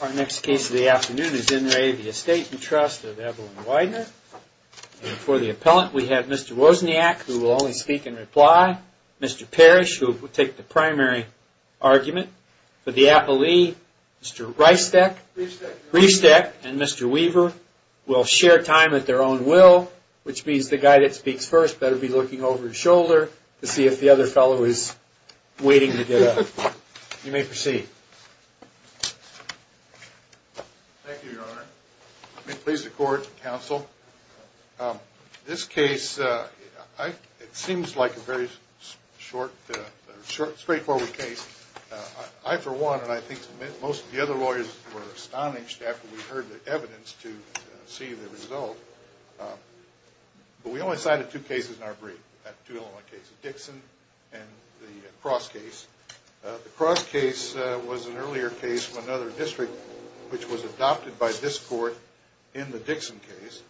Our next case of the afternoon is in re of the Estate and Trust of Evelyn Weidner and for the appellant we have Mr. Wozniak who will only speak and reply, Mr. Parrish who will take the primary argument, for the appellee Mr. Riefsteck and Mr. Weaver will share time at their own will which means the guy that speaks first better be looking over his shoulder to see if the other fellow is waiting to get up. You may proceed. Thank you your honor. May it please the court and counsel. This case it seems like a very short straightforward case. I for one and I think most of the other lawyers were astonished after we heard the evidence to see the result but we only cited two cases in our brief. Dixon and the Cross case. The Cross case was an earlier case from another district which was adopted by this court in the Dixon case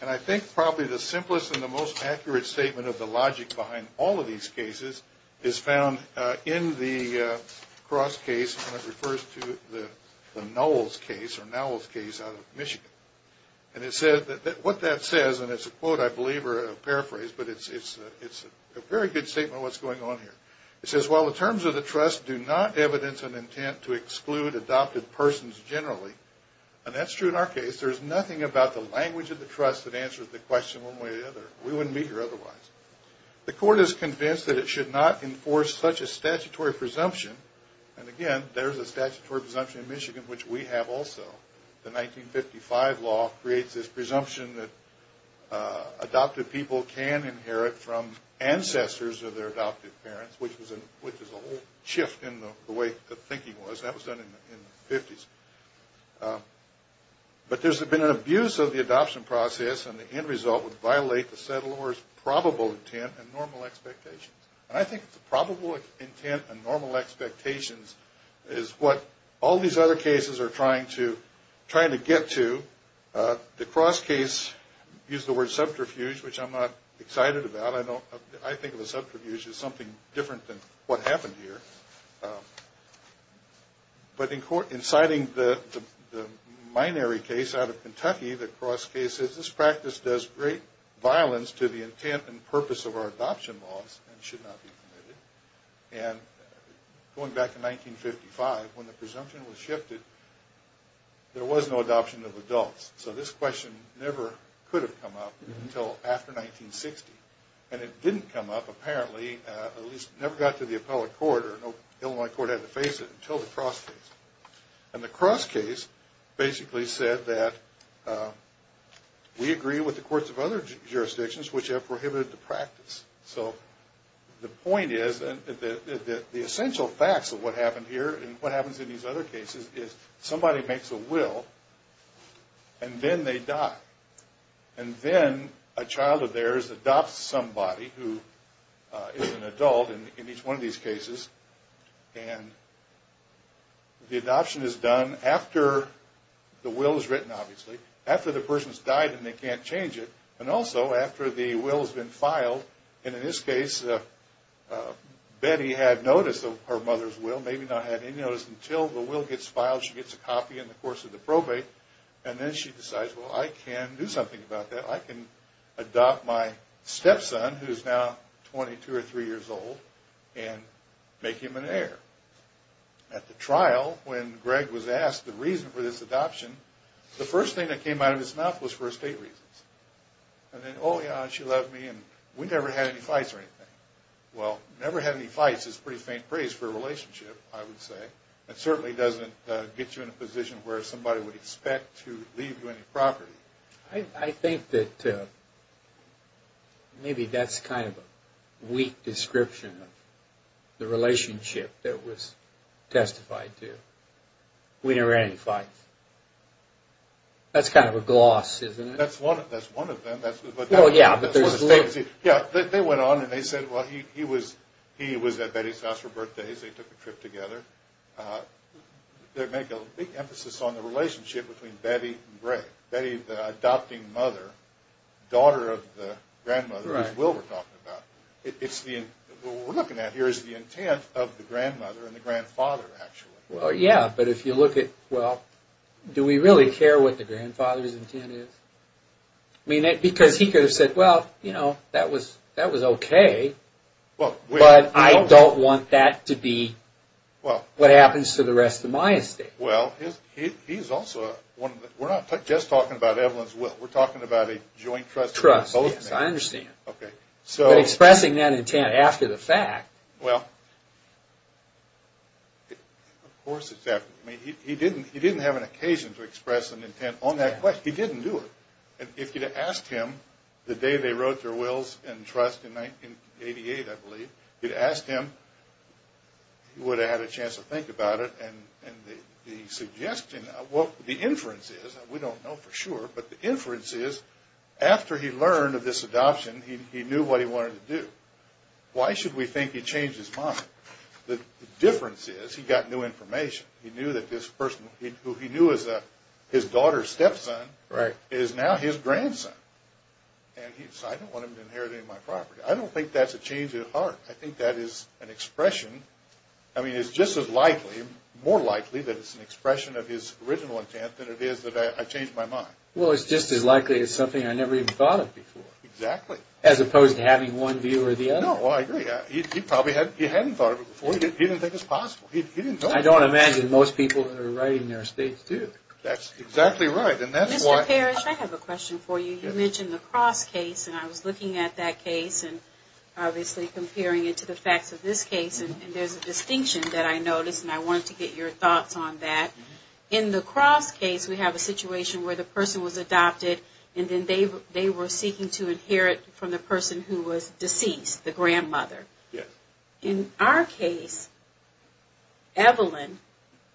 and I think probably the simplest and the most accurate statement of the logic behind all of these cases is found in the Cross case and it refers to the Knowles case or Knowles case out of Michigan and it said that what that says and it's a quote I believe or a phrase but it's a very good statement of what's going on here. It says well the terms of the trust do not evidence an intent to exclude adopted persons generally and that's true in our case. There's nothing about the language of the trust that answers the question one way or the other. We wouldn't be here otherwise. The court is convinced that it should not enforce such a statutory presumption and again there's a statutory presumption in Michigan which we have also. The 1955 law creates this presumption that adopted people can and should be adopted. Adopted people can inherit from ancestors of their adopted parents which is a whole shift in the way the thinking was. That was done in the 50s. But there's been an abuse of the adoption process and the end result would violate the settler's probable intent and normal expectations and I think the probable intent and normal expectations is what all these other cases are trying to get to. The Cross case used the word subterfuge which I'm not excited about. I think of a subterfuge as something different than what happened here. But in citing the minary case out of Kentucky the Cross case says this practice does great violence to the intent and purpose of our adoption laws and should not be committed. And going back to 1955 when the presumption was shifted there was no adoption of adults. So this question never could have come up until after 1960. And it didn't come up apparently, at least never got to the appellate court or Illinois court had to face it until the Cross case. And the Cross case basically said that we agree with the courts of other jurisdictions which have prohibited the practice. So the point is that the essential facts of what happened here and what happens in these other cases is somebody makes a will and then they die. And then a child of theirs adopts somebody who is an adult in each one of these cases. And the adoption is done after the will is written obviously, after the person has died and they can't change it, and also after the will has been filed. And in this case Betty had notice of her mother's will, maybe not had any notice until the will gets filed, she gets a copy in the course of the probate, and then she decides well I can do something about that. I can adopt my stepson who is now 22 or 23 years old and make him an heir. At the trial when Greg was asked the reason for this adoption, the first thing that came out of his mouth was for estate reasons. And then oh yeah, she loved me and we never had any fights or anything. Well, never had any fights is pretty faint praise for a relationship I would say. It certainly doesn't get you in a position where somebody would expect to leave you any property. I think that maybe that's kind of a weak description of the relationship that was testified to. We never had any fights. That's kind of a gloss, isn't it? That's one of them. They went on and they said he was at Betty's house for birthdays, they took a trip together. They make a big emphasis on the relationship between Betty and Greg. Betty the adopting mother, daughter of the grandmother, which Will was talking about. What we're looking at here is the intent of the grandmother and the grandfather actually. Well yeah, but if you look at, well, do we really care what the grandfather's intent is? Because he could have said, well, you know, that was okay. But I don't want that to be what happens to the rest of my estate. Well, he's also, we're not just talking about Evelyn's will, we're talking about a joint trust. Trust, yes, I understand. But expressing that intent after the fact. Well, of course, exactly. He didn't have an occasion to express an intent on that question. He didn't do it. And if you'd have asked him the day they wrote their wills and trust in 1988, I believe, you'd have asked him, he would have had a chance to think about it and the suggestion, the inference is, we don't know for sure, but the inference is, after he learned of this adoption, he knew what he wanted to do. Why should we think he changed his mind? The difference is, he got new information. He knew that this person, who he knew as his daughter's stepson, is now his grandson. And he said, I don't want him to inherit any of my property. I don't think that's a change at heart. I think that is an expression, I mean, it's just as likely, more likely, that it's an expression of his original intent than it is that I changed my mind. Well, it's just as likely as something I never even thought of before. Exactly. As opposed to having one view or the other. No, I agree. He probably hadn't thought of it before. He didn't think it was possible. He didn't know it. I don't imagine most people are writing their states, too. That's exactly right. And that's why... You mentioned the Cross case, and I was looking at that case, and obviously comparing it to the facts of this case, and there's a distinction that I noticed, and I wanted to get your thoughts on that. In the Cross case, we have a situation where the person was adopted, and then they were seeking to inherit from the person who was deceased, the grandmother. Yes. In our case, Evelyn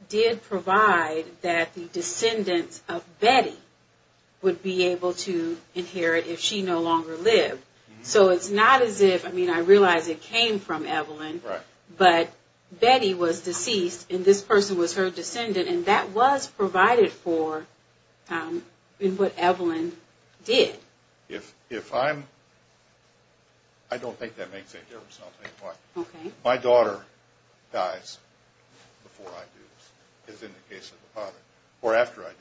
did provide that the descendants of Betty would be able to inherit if she no longer lived. So it's not as if, I mean, I realize it came from Evelyn, but Betty was deceased, and this person was her descendant, and that was provided for in what Evelyn did. If I'm... I don't think that makes any difference. My daughter dies before I do, as in the case of the father, or after I do.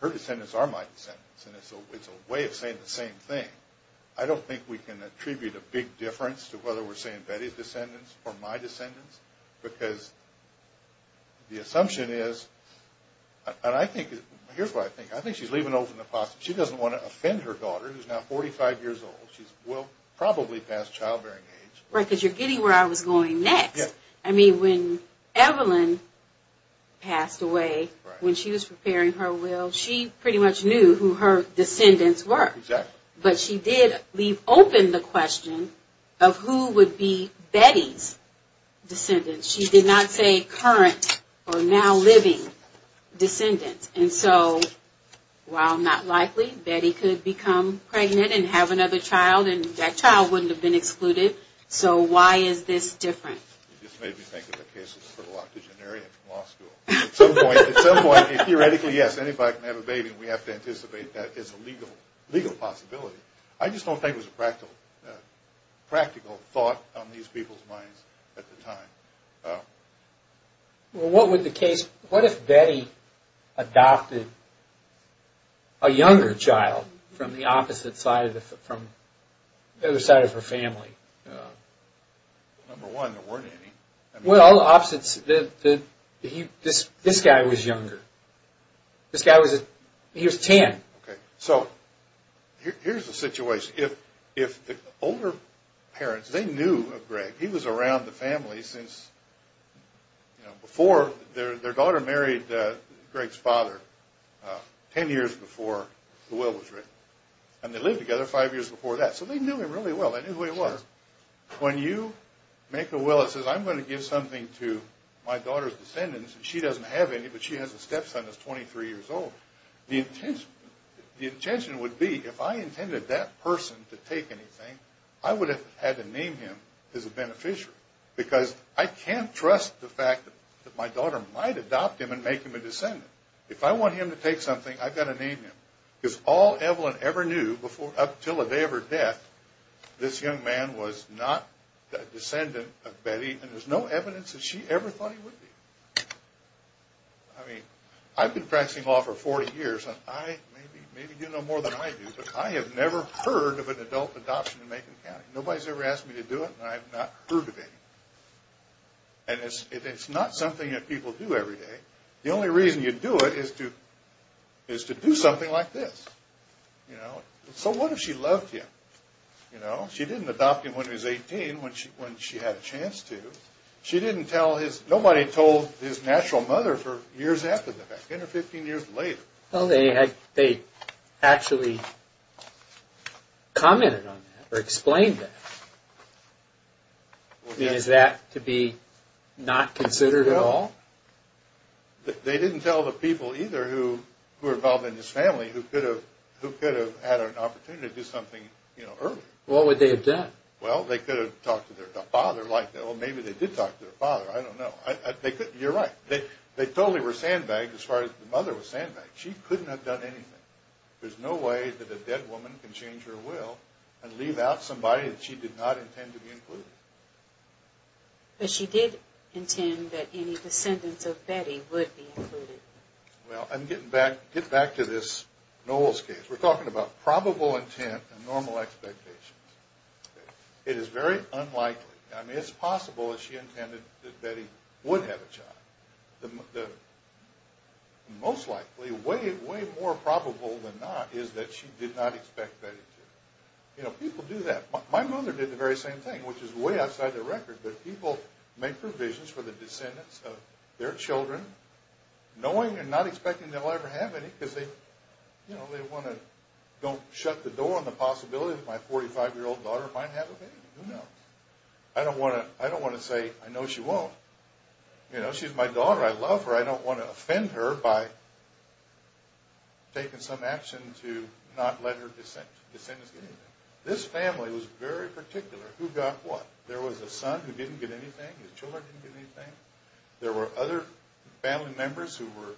Her descendants are my descendants, and it's a way of saying the same thing. I don't think we can attribute a big difference to whether we're saying Betty's descendants or my descendants, because the assumption is... And I think... Here's what I think. I think she's leaving open the possibility. She doesn't want to offend her daughter, who's now 45 years old. She's, well, probably past childbearing age. Right, because you're getting where I was going next. I mean, when Evelyn passed away, when she was preparing her will, she pretty much knew who her descendants were. Exactly. But she did leave open the question of who would be Betty's descendants. She did not say current or now living descendants. And so, while not likely, Betty could become pregnant and have another child, and that child wouldn't have been excluded. So why is this different? It just made me think of the case of the fertile octogenarian from law school. At some point, theoretically, yes, anybody can have a baby, and we have to anticipate that as a legal possibility. I just don't think it was a practical thought on these people's minds at the time. Well, what would the case... What if Betty adopted a younger child from the opposite side, from the other side of her family? Number one, there weren't any. Well, opposites... This guy was younger. This guy was... He was 10. Okay. So, here's the situation. If the older parents, they knew of Greg. He was around the family since before... Their daughter married Greg's father 10 years before the will was written. And they lived together 5 years before that. So they knew him really well. They knew who he was. Sure. When you make a will that says, I'm going to give something to my daughter's descendants, and she doesn't have any, but she has a stepson that's 23 years old, the intention would be, if I intended that person to take anything, I would have had to name him as a beneficiary, because I can't trust the fact that my daughter might adopt him and make him a descendant. If I want him to take something, I've got to name him. Because all Evelyn ever knew up until the day of her death, this young man was not a descendant of Betty, and there's no evidence that she ever thought he would be. I mean, I've been practicing law for 40 years, and I maybe do know more than I do, but I have never heard of an adult adoption in Macon County. Nobody's ever asked me to do it, and I have not heard of it. And it's not something that people do every day. The only reason you do it is to do something like this. So what if she loved him? She didn't adopt him when he was 18, when she had a chance to. Nobody told his natural mother for years after that, 10 or 15 years later. Well, they actually commented on that, or explained that. Is that to be not considered at all? They didn't tell the people either who were involved in this family who could have had an opportunity to do something earlier. What would they have done? Well, they could have talked to their father like that. Or maybe they did talk to their father. I don't know. You're right. They totally were sandbagged as far as the mother was sandbagged. She couldn't have done anything. There's no way that a dead woman can change her will and leave out somebody that she did not intend to be included. But she did intend that any descendants of Betty would be included. Well, I'm getting back to this Knowles case. We're talking about probable intent and normal expectations. It is very unlikely. I mean, it's possible that she intended that Betty would have a child. Most likely, way more probable than not, is that she did not expect Betty to. People do that. My mother did the very same thing, which is way outside the record. But people make provisions for the descendants of their children, knowing and not expecting they'll ever have any, because they want to don't shut the door on the possibility that my 45-year-old daughter might have a baby. Who knows? I don't want to say, I know she won't. She's my daughter. I love her. I don't want to offend her by taking some action to not let her descendants get anything. This family was very particular. Who got what? There was a son who didn't get anything. His children didn't get anything. There were other family members who were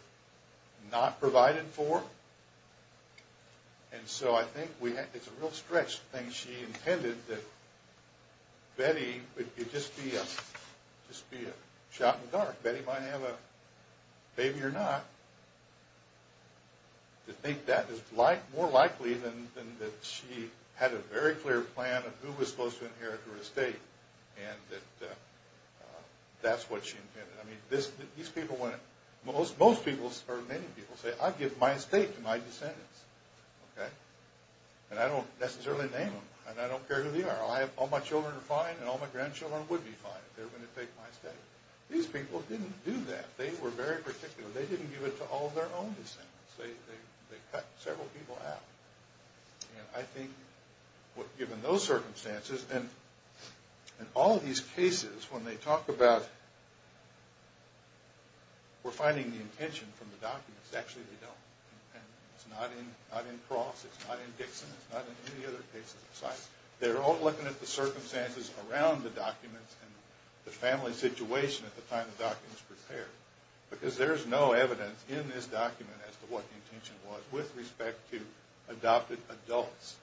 not provided for. And so I think it's a real stretched thing. She intended that Betty would just be a shot in the dark. Betty might have a baby or not. To think that is more likely than that she had a very clear plan of who was supposed to inherit her estate, and that that's what she intended. Most people, or many people, say, I'll give my estate to my descendants. And I don't necessarily name them, and I don't care who they are. All my children are fine, and all my grandchildren would be fine if they were going to take my estate. These people didn't do that. They were very particular. They didn't give it to all of their own descendants. They cut several people out. And I think given those circumstances, and all these cases, when they talk about We're finding the intention from the documents. Actually, they don't. It's not in Cross, it's not in Dixon, it's not in any of the other cases besides. They're all looking at the circumstances around the documents and the family situation at the time the document was prepared. Because there's no evidence in this document as to what the intention was with respect to adopted adults.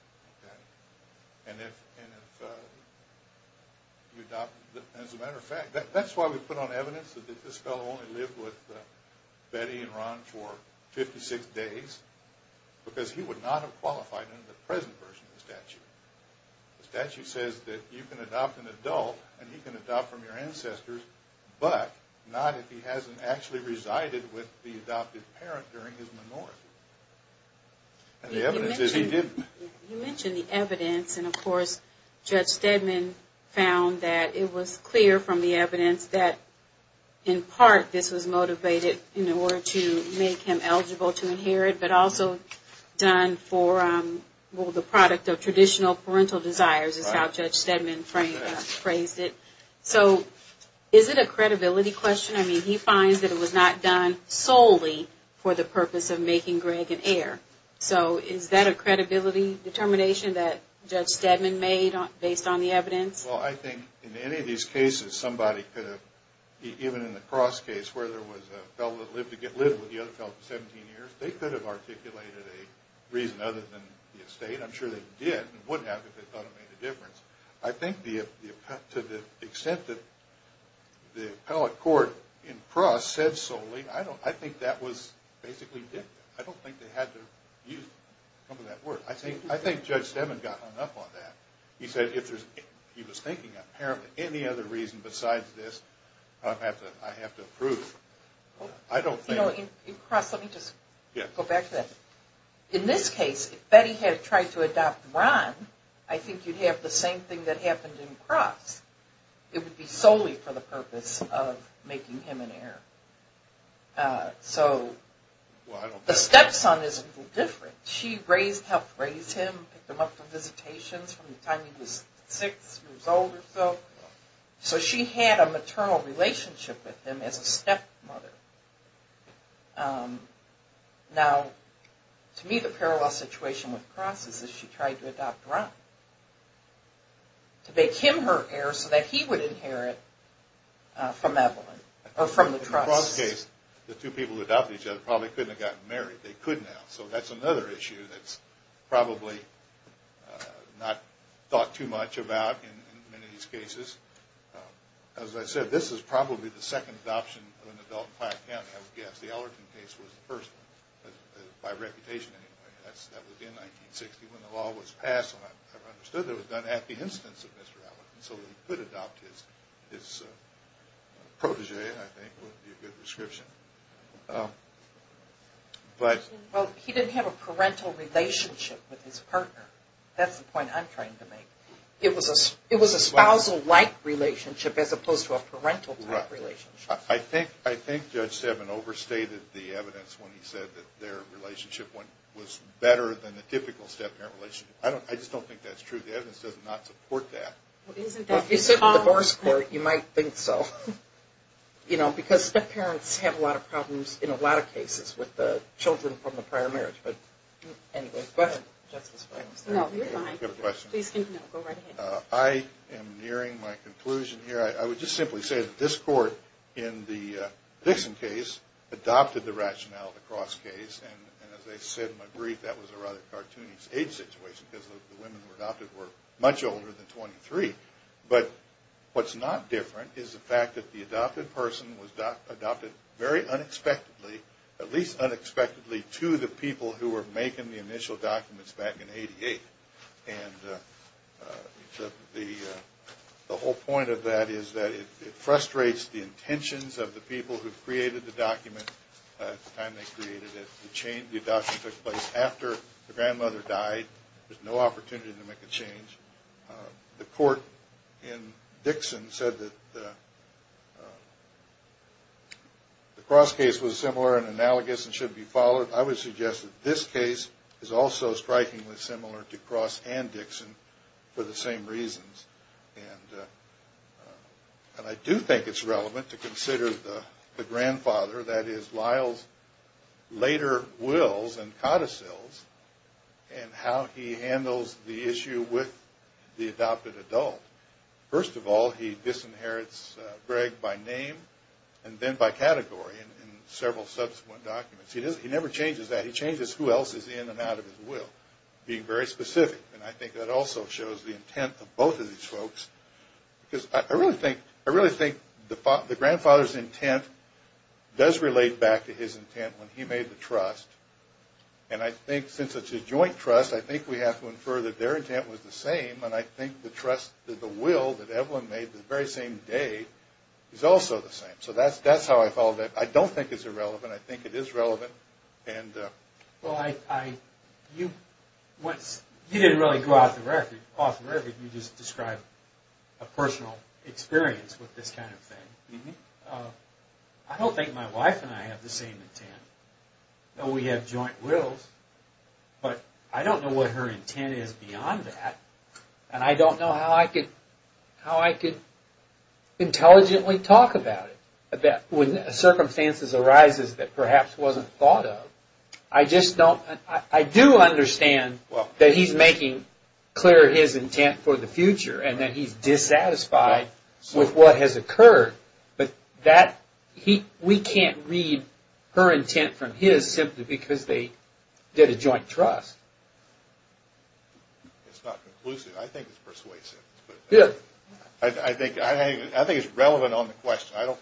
As a matter of fact, that's why we put on evidence that this fellow only lived with Betty and Ron for 56 days, because he would not have qualified under the present version of the statute. The statute says that you can adopt an adult, and he can adopt from your ancestors, but not if he hasn't actually resided with the adopted parent during his minority. And the evidence is he didn't. You mentioned the evidence, and of course Judge Stedman found that it was clear from the evidence that in part this was motivated in order to make him eligible to inherit, but also done for the product of traditional parental desires is how Judge Stedman phrased it. So is it a credibility question? I mean, he finds that it was not done solely for the purpose of making Greg an heir. So is that a credibility determination that Judge Stedman made based on the evidence? Well, I think in any of these cases somebody could have, even in the Cross case where there was a fellow that lived to get little with the other fellow for 17 years, they could have articulated a reason other than the estate. I'm sure they did, and wouldn't have if they thought it made a difference. I think to the extent that the appellate court in Cross said solely, I think that was basically dictated. I don't think they had to use some of that word. I think Judge Stedman got hung up on that. He said he was thinking apparently any other reason besides this I have to approve. In Cross, let me just go back to that. In this case, if Betty had tried to adopt Ron, I think you'd have the same thing that happened in Cross. It would be solely for the purpose of making him an heir. So the stepson is a little different. She helped raise him, picked him up for visitations from the time he was six years old or so. So she had a maternal relationship with him as a stepmother. Now, to me the parallel situation with Cross is that she tried to adopt Ron. To make him her heir so that he would inherit from Evelyn, or from the Trust. In Cross' case, the two people who adopted each other probably couldn't have gotten married. They couldn't have. So that's another issue that's probably not thought too much about in many of these cases. As I said, this is probably the second adoption of an adult in Platt County, I would guess. The Ellerton case was the first, by reputation anyway. That was in 1960 when the law was passed. It was done at the instance of Mr. Ellerton. So he could adopt his protege, I think, would be a good description. He didn't have a parental relationship with his partner. That's the point I'm trying to make. It was a spousal-like relationship as opposed to a parental-type relationship. I think Judge Stebbin overstated the evidence when he said that their relationship was better than a typical step-parent relationship. I just don't think that's true. The evidence does not support that. Well, if you sit with the divorce court, you might think so. Because step-parents have a lot of problems in a lot of cases with the children from the prior marriage. But, anyway, go ahead, Justice Breyer. No, you're fine. Please continue. Go right ahead. I am nearing my conclusion here. I would just simply say that this Court in the Dixon case adopted the rationale of the Cross case. And, as I said in my brief, that was a rather cartoony stage situation because the women who were adopted were much older than 23. But what's not different is the fact that the adopted person was adopted very unexpectedly, at least unexpectedly, to the people who were making the initial documents back in 1988. And the whole point of that is that it frustrates the intentions of the people who created the document at the time they created it. The adoption took place after the grandmother died. There's no opportunity to make a change. The Court in Dixon said that the Cross case was similar and analogous and should be followed. I would suggest that this case is also strikingly similar to Cross and Dixon for the same reasons. And I do think it's relevant to consider the grandfather, that is, Lyle's later wills and codicils, and how he handles the issue with the adopted adult. First of all, he disinherits Greg by name and then by category in several subsequent documents. He never changes that. He changes who else is in and out of his will, being very specific. And I think that also shows the intent of both of these folks. Because I really think the grandfather's intent does relate back to his intent when he made the trust. And I think since it's a joint trust, I think we have to infer that their intent was the same. And I think the trust, the will that Evelyn made the very same day is also the same. So that's how I follow that. I don't think it's irrelevant. I think it is relevant. Well, you didn't really go off the record. You just described a personal experience with this kind of thing. I don't think my wife and I have the same intent. We have joint wills, but I don't know what her intent is beyond that. And I don't know how I could intelligently talk about it. When circumstances arise that perhaps wasn't thought of, I do understand that he's making clear his intent for the future. And that he's dissatisfied with what has occurred. But we can't read her intent from his simply because they did a joint trust. It's not conclusive. I think it's persuasive. I think it's relevant on the question. Well, I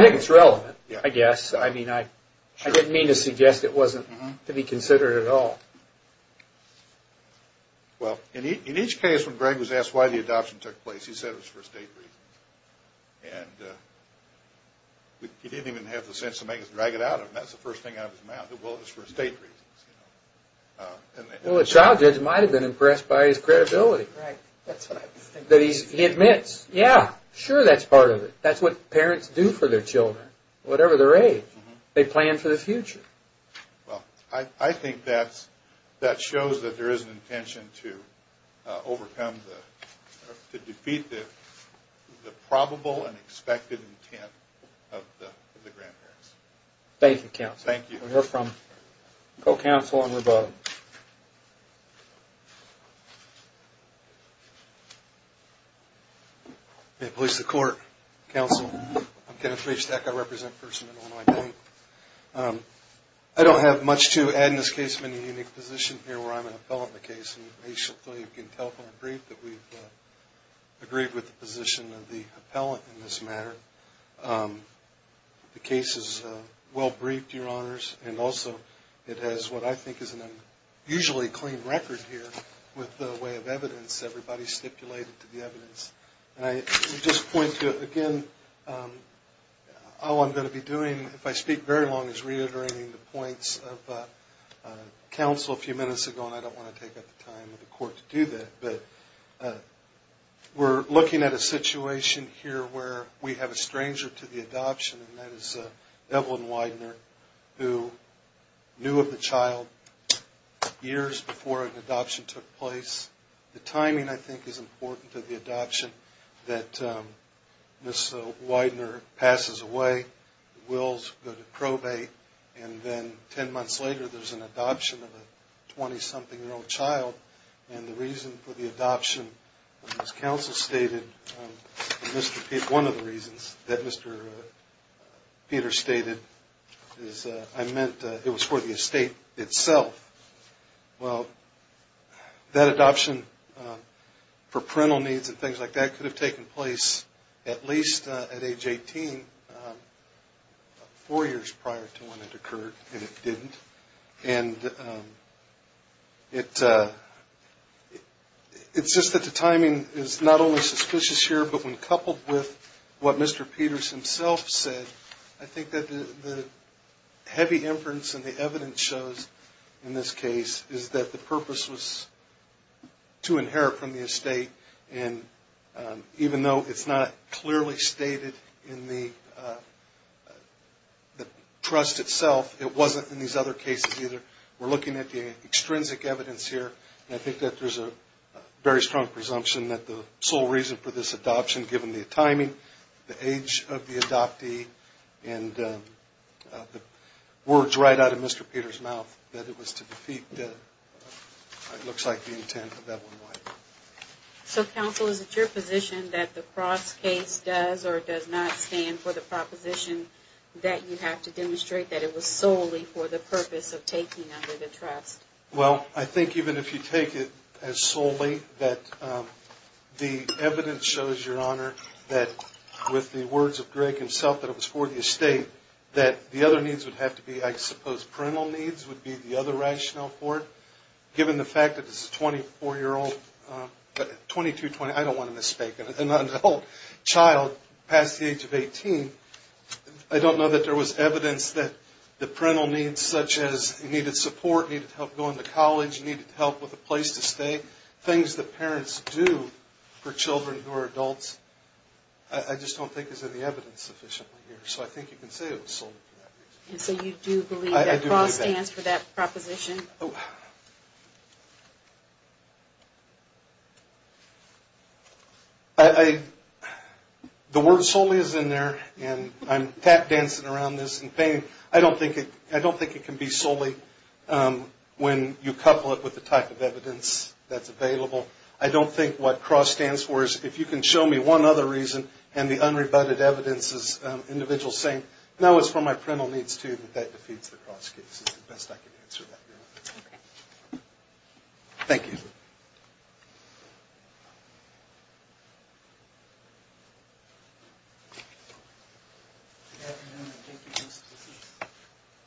think it's relevant, I guess. I didn't mean to suggest it wasn't to be considered at all. Well, in each case when Greg was asked why the adoption took place, he said it was for estate reasons. And he didn't even have the sense to make us drag it out of him. That's the first thing out of his mouth. The will is for estate reasons. Well, a child judge might have been impressed by his credibility. That he admits, yeah, sure that's part of it. That's what parents do for their children, whatever their age. They plan for the future. Well, I think that shows that there is an intention to overcome, to defeat the probable and expected intent of the grandparents. Thank you, counsel. Thank you. We'll hear from co-counsel and rebuttal. May it please the court, counsel. I'm Kenneth Rebstack. I represent First Amendment Illinois Bank. I don't have much to add in this case. I'm in a unique position here where I'm an appellant in the case. And you can tell from the brief that we've agreed with the position of the appellant in this matter. The case is well briefed, your honors. And also it has what I think is an unusually clean record here with the way of evidence. Everybody stipulated to the evidence. And I just point to, again, how I'm going to be doing, if I speak very long, is reiterating the points of counsel a few minutes ago. And I don't want to take up the time of the court to do that. But we're looking at a situation here where we have a stranger to the adoption, and that is Evelyn Widener, who knew of the child years before an adoption took place. The timing, I think, is important to the adoption, that Ms. Widener passes away. The Wills go to probate. And then ten months later, there's an adoption of a 20-something-year-old child. And the reason for the adoption, as counsel stated, one of the reasons that Mr. Peter stated is I meant it was for the estate itself. Well, that adoption for parental needs and things like that could have taken place at least at age 18, four years prior to when it occurred, and it didn't. And it's just that the timing is not only suspicious here, but when coupled with what Mr. Peters himself said, I think that the heavy inference and the evidence shows in this case is that the purpose was to inherit from the estate. And even though it's not clearly stated in the trust itself, it wasn't in these other cases either. We're looking at the extrinsic evidence here, and I think that there's a very strong presumption that the sole reason for this adoption, given the timing, the age of the adoptee, and the words right out of Mr. Peter's mouth, that it was to defeat what looks like the intent of that one wife. So, counsel, is it your position that the Cross case does or does not stand for the proposition that you have to demonstrate that it was solely for the purpose of taking under the trust? Well, I think even if you take it as solely, that the evidence shows, Your Honor, that with the words of Greg himself, that it was for the estate, that the other needs would have to be, I suppose, parental needs would be the other rationale for it. Given the fact that this is a 24-year-old, 22-20, I don't want to mistake it, an adult child past the age of 18, I don't know that there was evidence that the parental needs such as needed support, needed help going to college, needed help with a place to stay, things that parents do for children who are adults, I just don't think there's any evidence sufficiently here, so I think you can say it was solely for that reason. And so you do believe that Cross stands for that proposition? I do believe that. The word solely is in there, and I'm tap dancing around this in pain. I don't think it can be solely when you couple it with the type of evidence that's available. I don't think what Cross stands for is, if you can show me one other reason, and the unrebutted evidence is individuals saying, no, it's for my parental needs too, that that defeats the Cross case. It's the best I can answer that, Your Honor. Thank you. Thank you.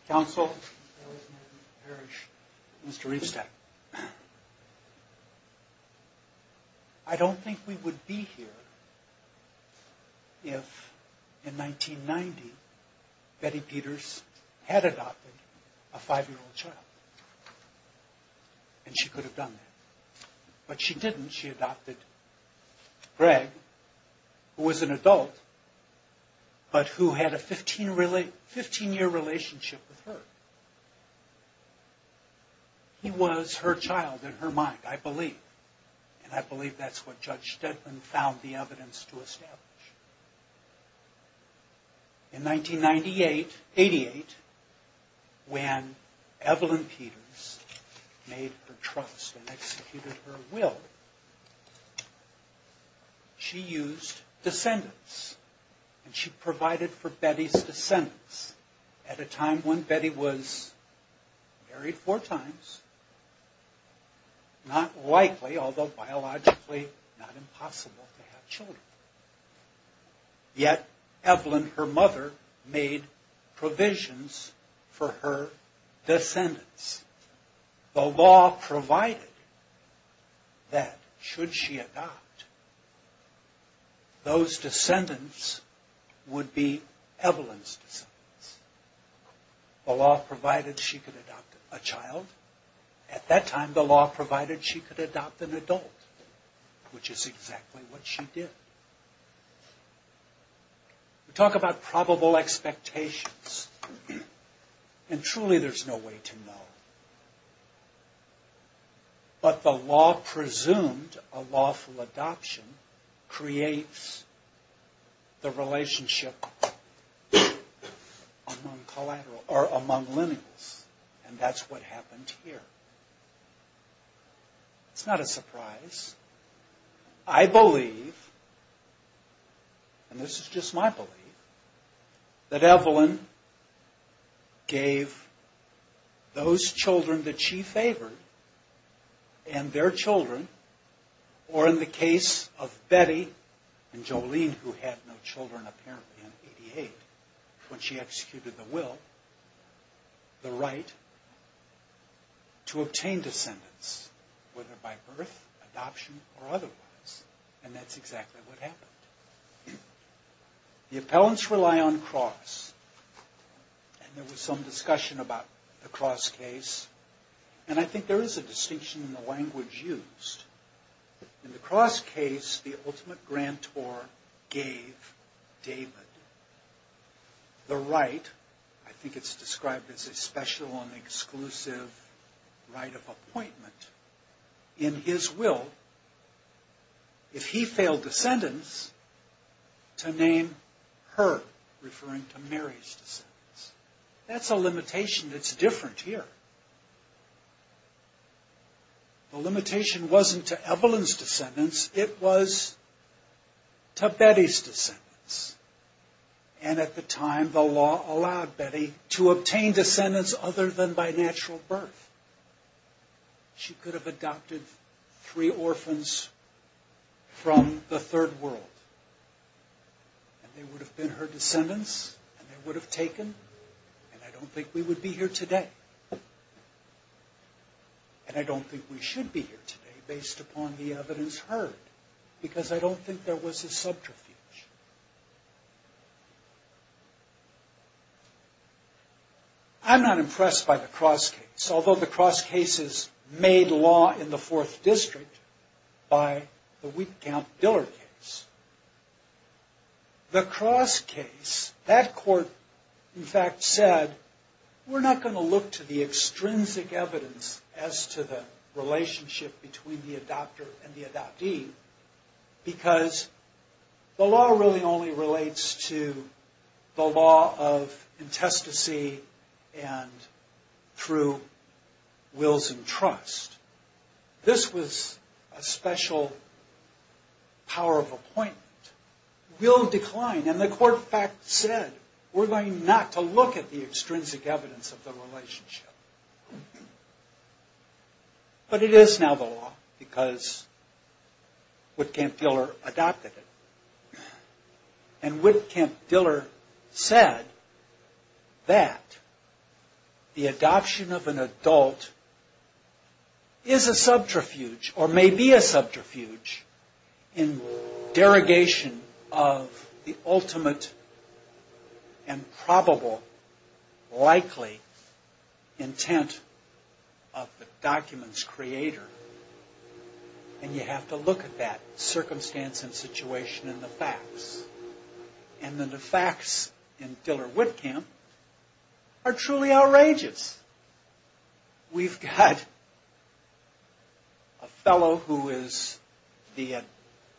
Counsel, Mr. Riefstad. I don't think we would be here if, in 1990, Betty Peters had adopted a five-year-old child. And she could have done that. But she didn't. She adopted Greg, who was an adult, but who had a 15-year relationship with her. He was her child in her mind, I believe. And I believe that's what Judge Stedman found the evidence to establish. In 1988, when Evelyn Peters made her trust and executed her will, she used descendants. And she provided for Betty's descendants at a time when Betty was married four times, not likely, although biologically not impossible to have children. Yet Evelyn, her mother, made provisions for her descendants. The law provided that, should she adopt, those descendants would be Evelyn's descendants. The law provided she could adopt a child. At that time, the law provided she could adopt an adult, which is exactly what she did. We talk about probable expectations. And truly, there's no way to know. But the law presumed a lawful adoption creates the relationship among lineals. And that's what happened here. It's not a surprise. I believe, and this is just my belief, that Evelyn gave those children that she favored and their children, or in the case of Betty and Jolene, who had no children apparently in 88, when she executed the will, the right to obtain descendants, whether by birth, adoption, or otherwise. And that's exactly what happened. The appellants rely on cross. And there was some discussion about the cross case. And I think there is a distinction in the language used. In the cross case, the ultimate grantor gave David the right, I think it's described as a special and exclusive right of appointment in his will, if he failed descendants, to name her, referring to Mary's descendants. That's a limitation that's different here. The limitation wasn't to Evelyn's descendants. It was to Betty's descendants. And at the time, the law allowed Betty to obtain descendants other than by natural birth. She could have adopted three orphans from the third world. And they would have been her descendants. And they would have taken. And I don't think we would be here today. And I don't think we should be here today based upon the evidence heard. Because I don't think there was a subterfuge. I'm not impressed by the cross case, although the cross case is made law in the Fourth District by the Wietkamp-Diller case. The cross case, that court, in fact, said, we're not going to look to the extrinsic evidence as to the relationship between the adopter and the adoptee. Because the law really only relates to the law of intestacy and through wills and trust. This was a special power of appointment. Will decline. And the court, in fact, said, we're going not to look at the extrinsic evidence of the relationship. But it is now the law because Wietkamp-Diller adopted it. And Wietkamp-Diller said that the adoption of an adult is a subterfuge or may be a subterfuge in derogation of the ultimate and probable likely intent of the document's creator. And you have to look at that circumstance and situation in the facts. And the facts in Diller-Wietkamp are truly outrageous. We've got a fellow who is the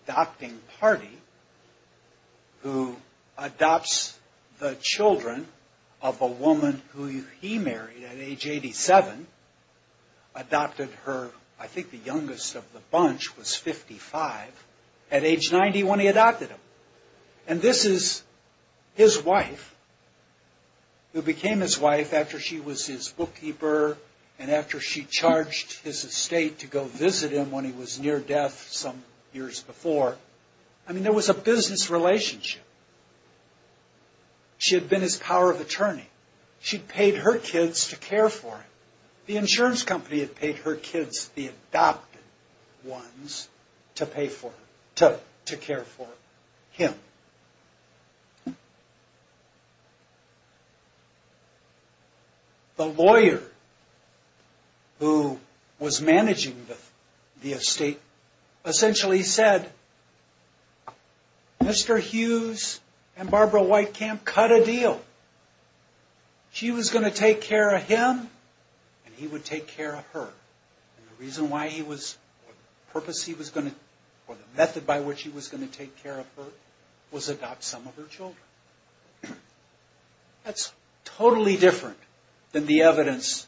adopting party who adopts the children of a woman who he married at age 87. Adopted her, I think the youngest of the bunch was 55. At age 90 when he adopted them. And this is his wife who became his wife after she was his bookkeeper and after she charged his estate to go visit him when he was near death some years before. I mean, there was a business relationship. She had been his power of attorney. She paid her kids to care for him. The insurance company had paid her kids, the adopted ones, to care for him. The lawyer who was managing the estate essentially said, Mr. Hughes and Barbara Wietkamp cut a deal. She was going to take care of him and he would take care of her. And the reason why he was, or the purpose he was going to, or the method by which he was going to take care of her was adopt some of her children. That's totally different than the evidence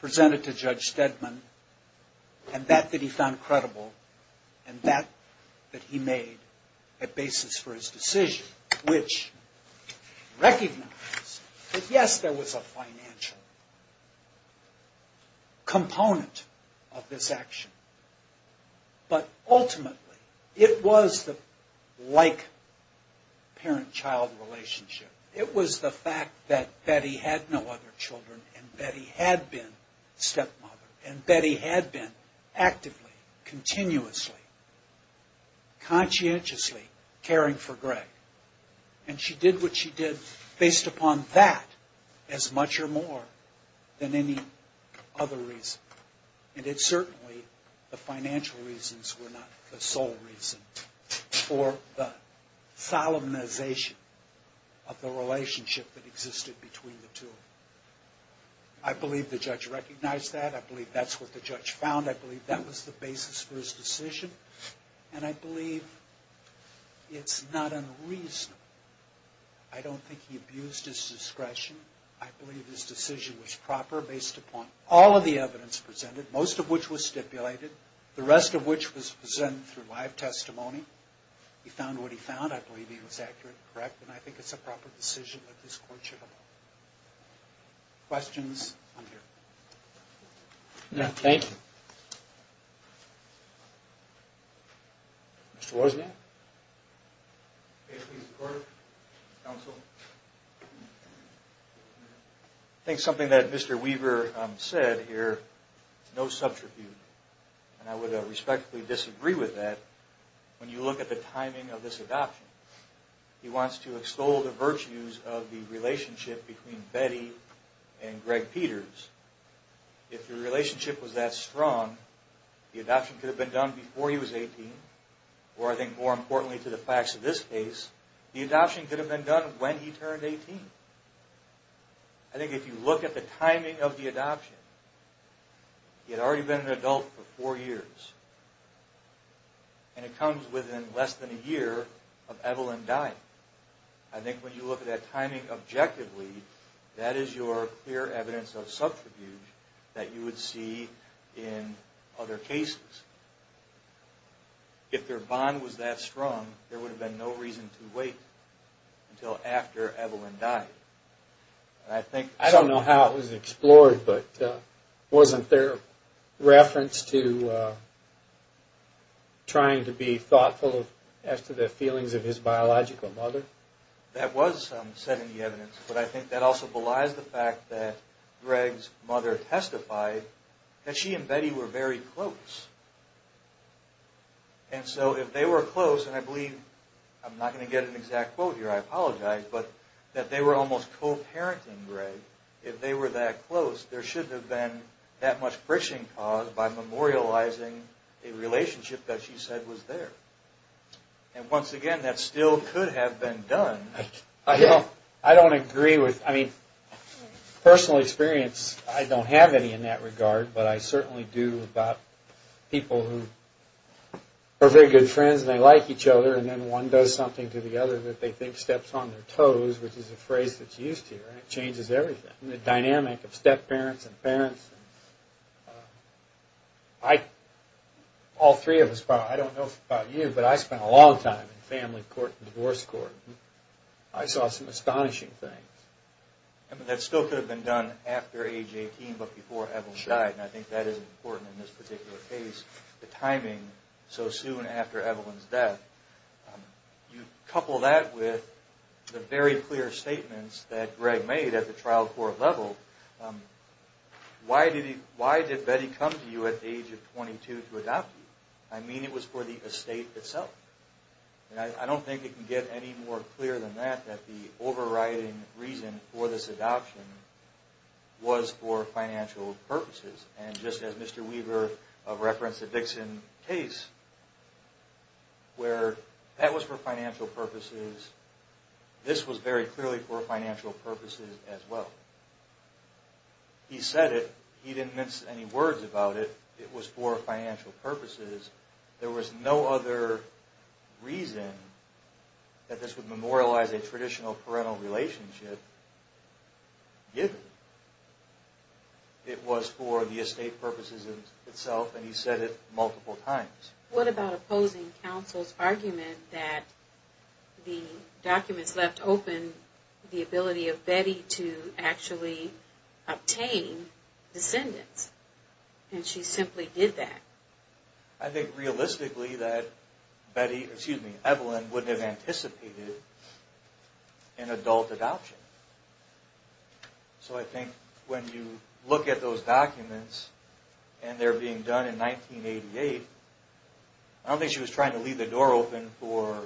presented to Judge Stedman and that that he found credible and that that he made a basis for his decision, which recognized that, yes, there was a financial component of this action, but ultimately it was the like parent-child relationship. It was the fact that Betty had no other children and Betty had been stepmother and Betty had been actively, continuously, conscientiously caring for Greg. And she did what she did based upon that as much or more than any other reason. And it certainly, the financial reasons were not the sole reason for the solemnization of the relationship that existed between the two. I believe the judge recognized that. I believe that's what the judge found. I believe that was the basis for his decision. And I believe it's not unreasonable. I don't think he abused his discretion. I believe his decision was proper based upon all of the evidence presented, most of which was stipulated, the rest of which was presented through live testimony. He found what he found. I believe he was accurate and correct. And I think it's a proper decision that this court should have made. Questions? I'm here. Thank you. Mr. Wozniak? Thank you, Mr. Carter, counsel. I think something that Mr. Weaver said here, no subterfuge. And I would respectfully disagree with that when you look at the timing of this adoption. He wants to extol the virtues of the relationship between Betty and Greg Peters. If the relationship was that strong, the adoption could have been done before he was 18, or I think more importantly to the facts of this case, the adoption could have been done when he turned 18. I think if you look at the timing of the adoption, he had already been an adult for four years, and it comes within less than a year of Evelyn dying. I think when you look at that timing objectively, that is your clear evidence of subterfuge that you would see in other cases. If their bond was that strong, there would have been no reason to wait until after Evelyn died. I don't know how it was explored, but wasn't there reference to trying to be thoughtful as to the feelings of his biological mother? That was said in the evidence, but I think that also belies the fact that Greg's mother testified that she and Betty were very close. And so if they were close, and I believe, I'm not going to get an exact quote here, I apologize, but that they were almost co-parenting Greg. If they were that close, there shouldn't have been that much friction caused by memorializing a relationship that she said was there. And once again, that still could have been done. I don't agree with, I mean, personal experience, I don't have any in that regard, but I certainly do about people who are very good friends and they like each other, and then one does something to the other that they think steps on their toes, which is a phrase that's used here, and it changes everything. The dynamic of step-parents and parents, I, all three of us probably, I don't know about you, but I spent a long time in family court and divorce court. I saw some astonishing things. That still could have been done after age 18, but before Evelyn died, and I think that is important in this particular case, the timing so soon after Evelyn's death. You couple that with the very clear statements that Greg made at the trial court level. Why did Betty come to you at the age of 22 to adopt you? I mean it was for the estate itself. I don't think it can get any more clear than that, that the overriding reason for this adoption was for financial purposes. And just as Mr. Weaver referenced the Dixon case, where that was for financial purposes, this was very clearly for financial purposes as well. He said it, he didn't mince any words about it, that it was for financial purposes. There was no other reason that this would memorialize a traditional parental relationship, given it was for the estate purposes itself, and he said it multiple times. What about opposing counsel's argument that the documents left open the ability of Betty to actually obtain descendants? And she simply did that. I think realistically that Evelyn wouldn't have anticipated an adult adoption. So I think when you look at those documents, and they're being done in 1988, I don't think she was trying to leave the door open for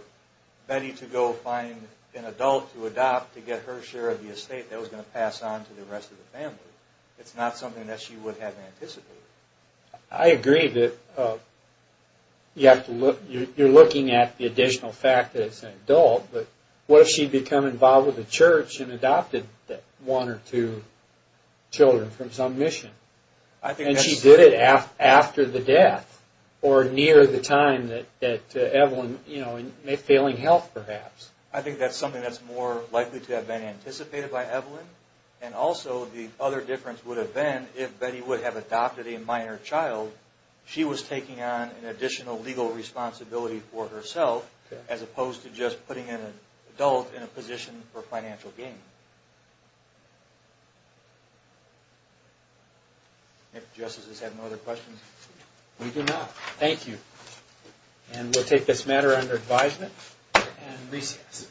Betty to go find an adult to adopt to get her share of the estate that was going to pass on to the rest of the family. It's not something that she would have anticipated. I agree that you're looking at the additional fact that it's an adult, but what if she had become involved with the church and adopted one or two children from some mission? And she did it after the death, or near the time that Evelyn, in failing health perhaps. I think that's something that's more likely to have been anticipated by Evelyn, and also the other difference would have been if Betty would have adopted a minor child, she was taking on an additional legal responsibility for herself, as opposed to just putting an adult in a position for financial gain. If justices have no other questions. We do not. Thank you. And we'll take this matter under advisement and recess.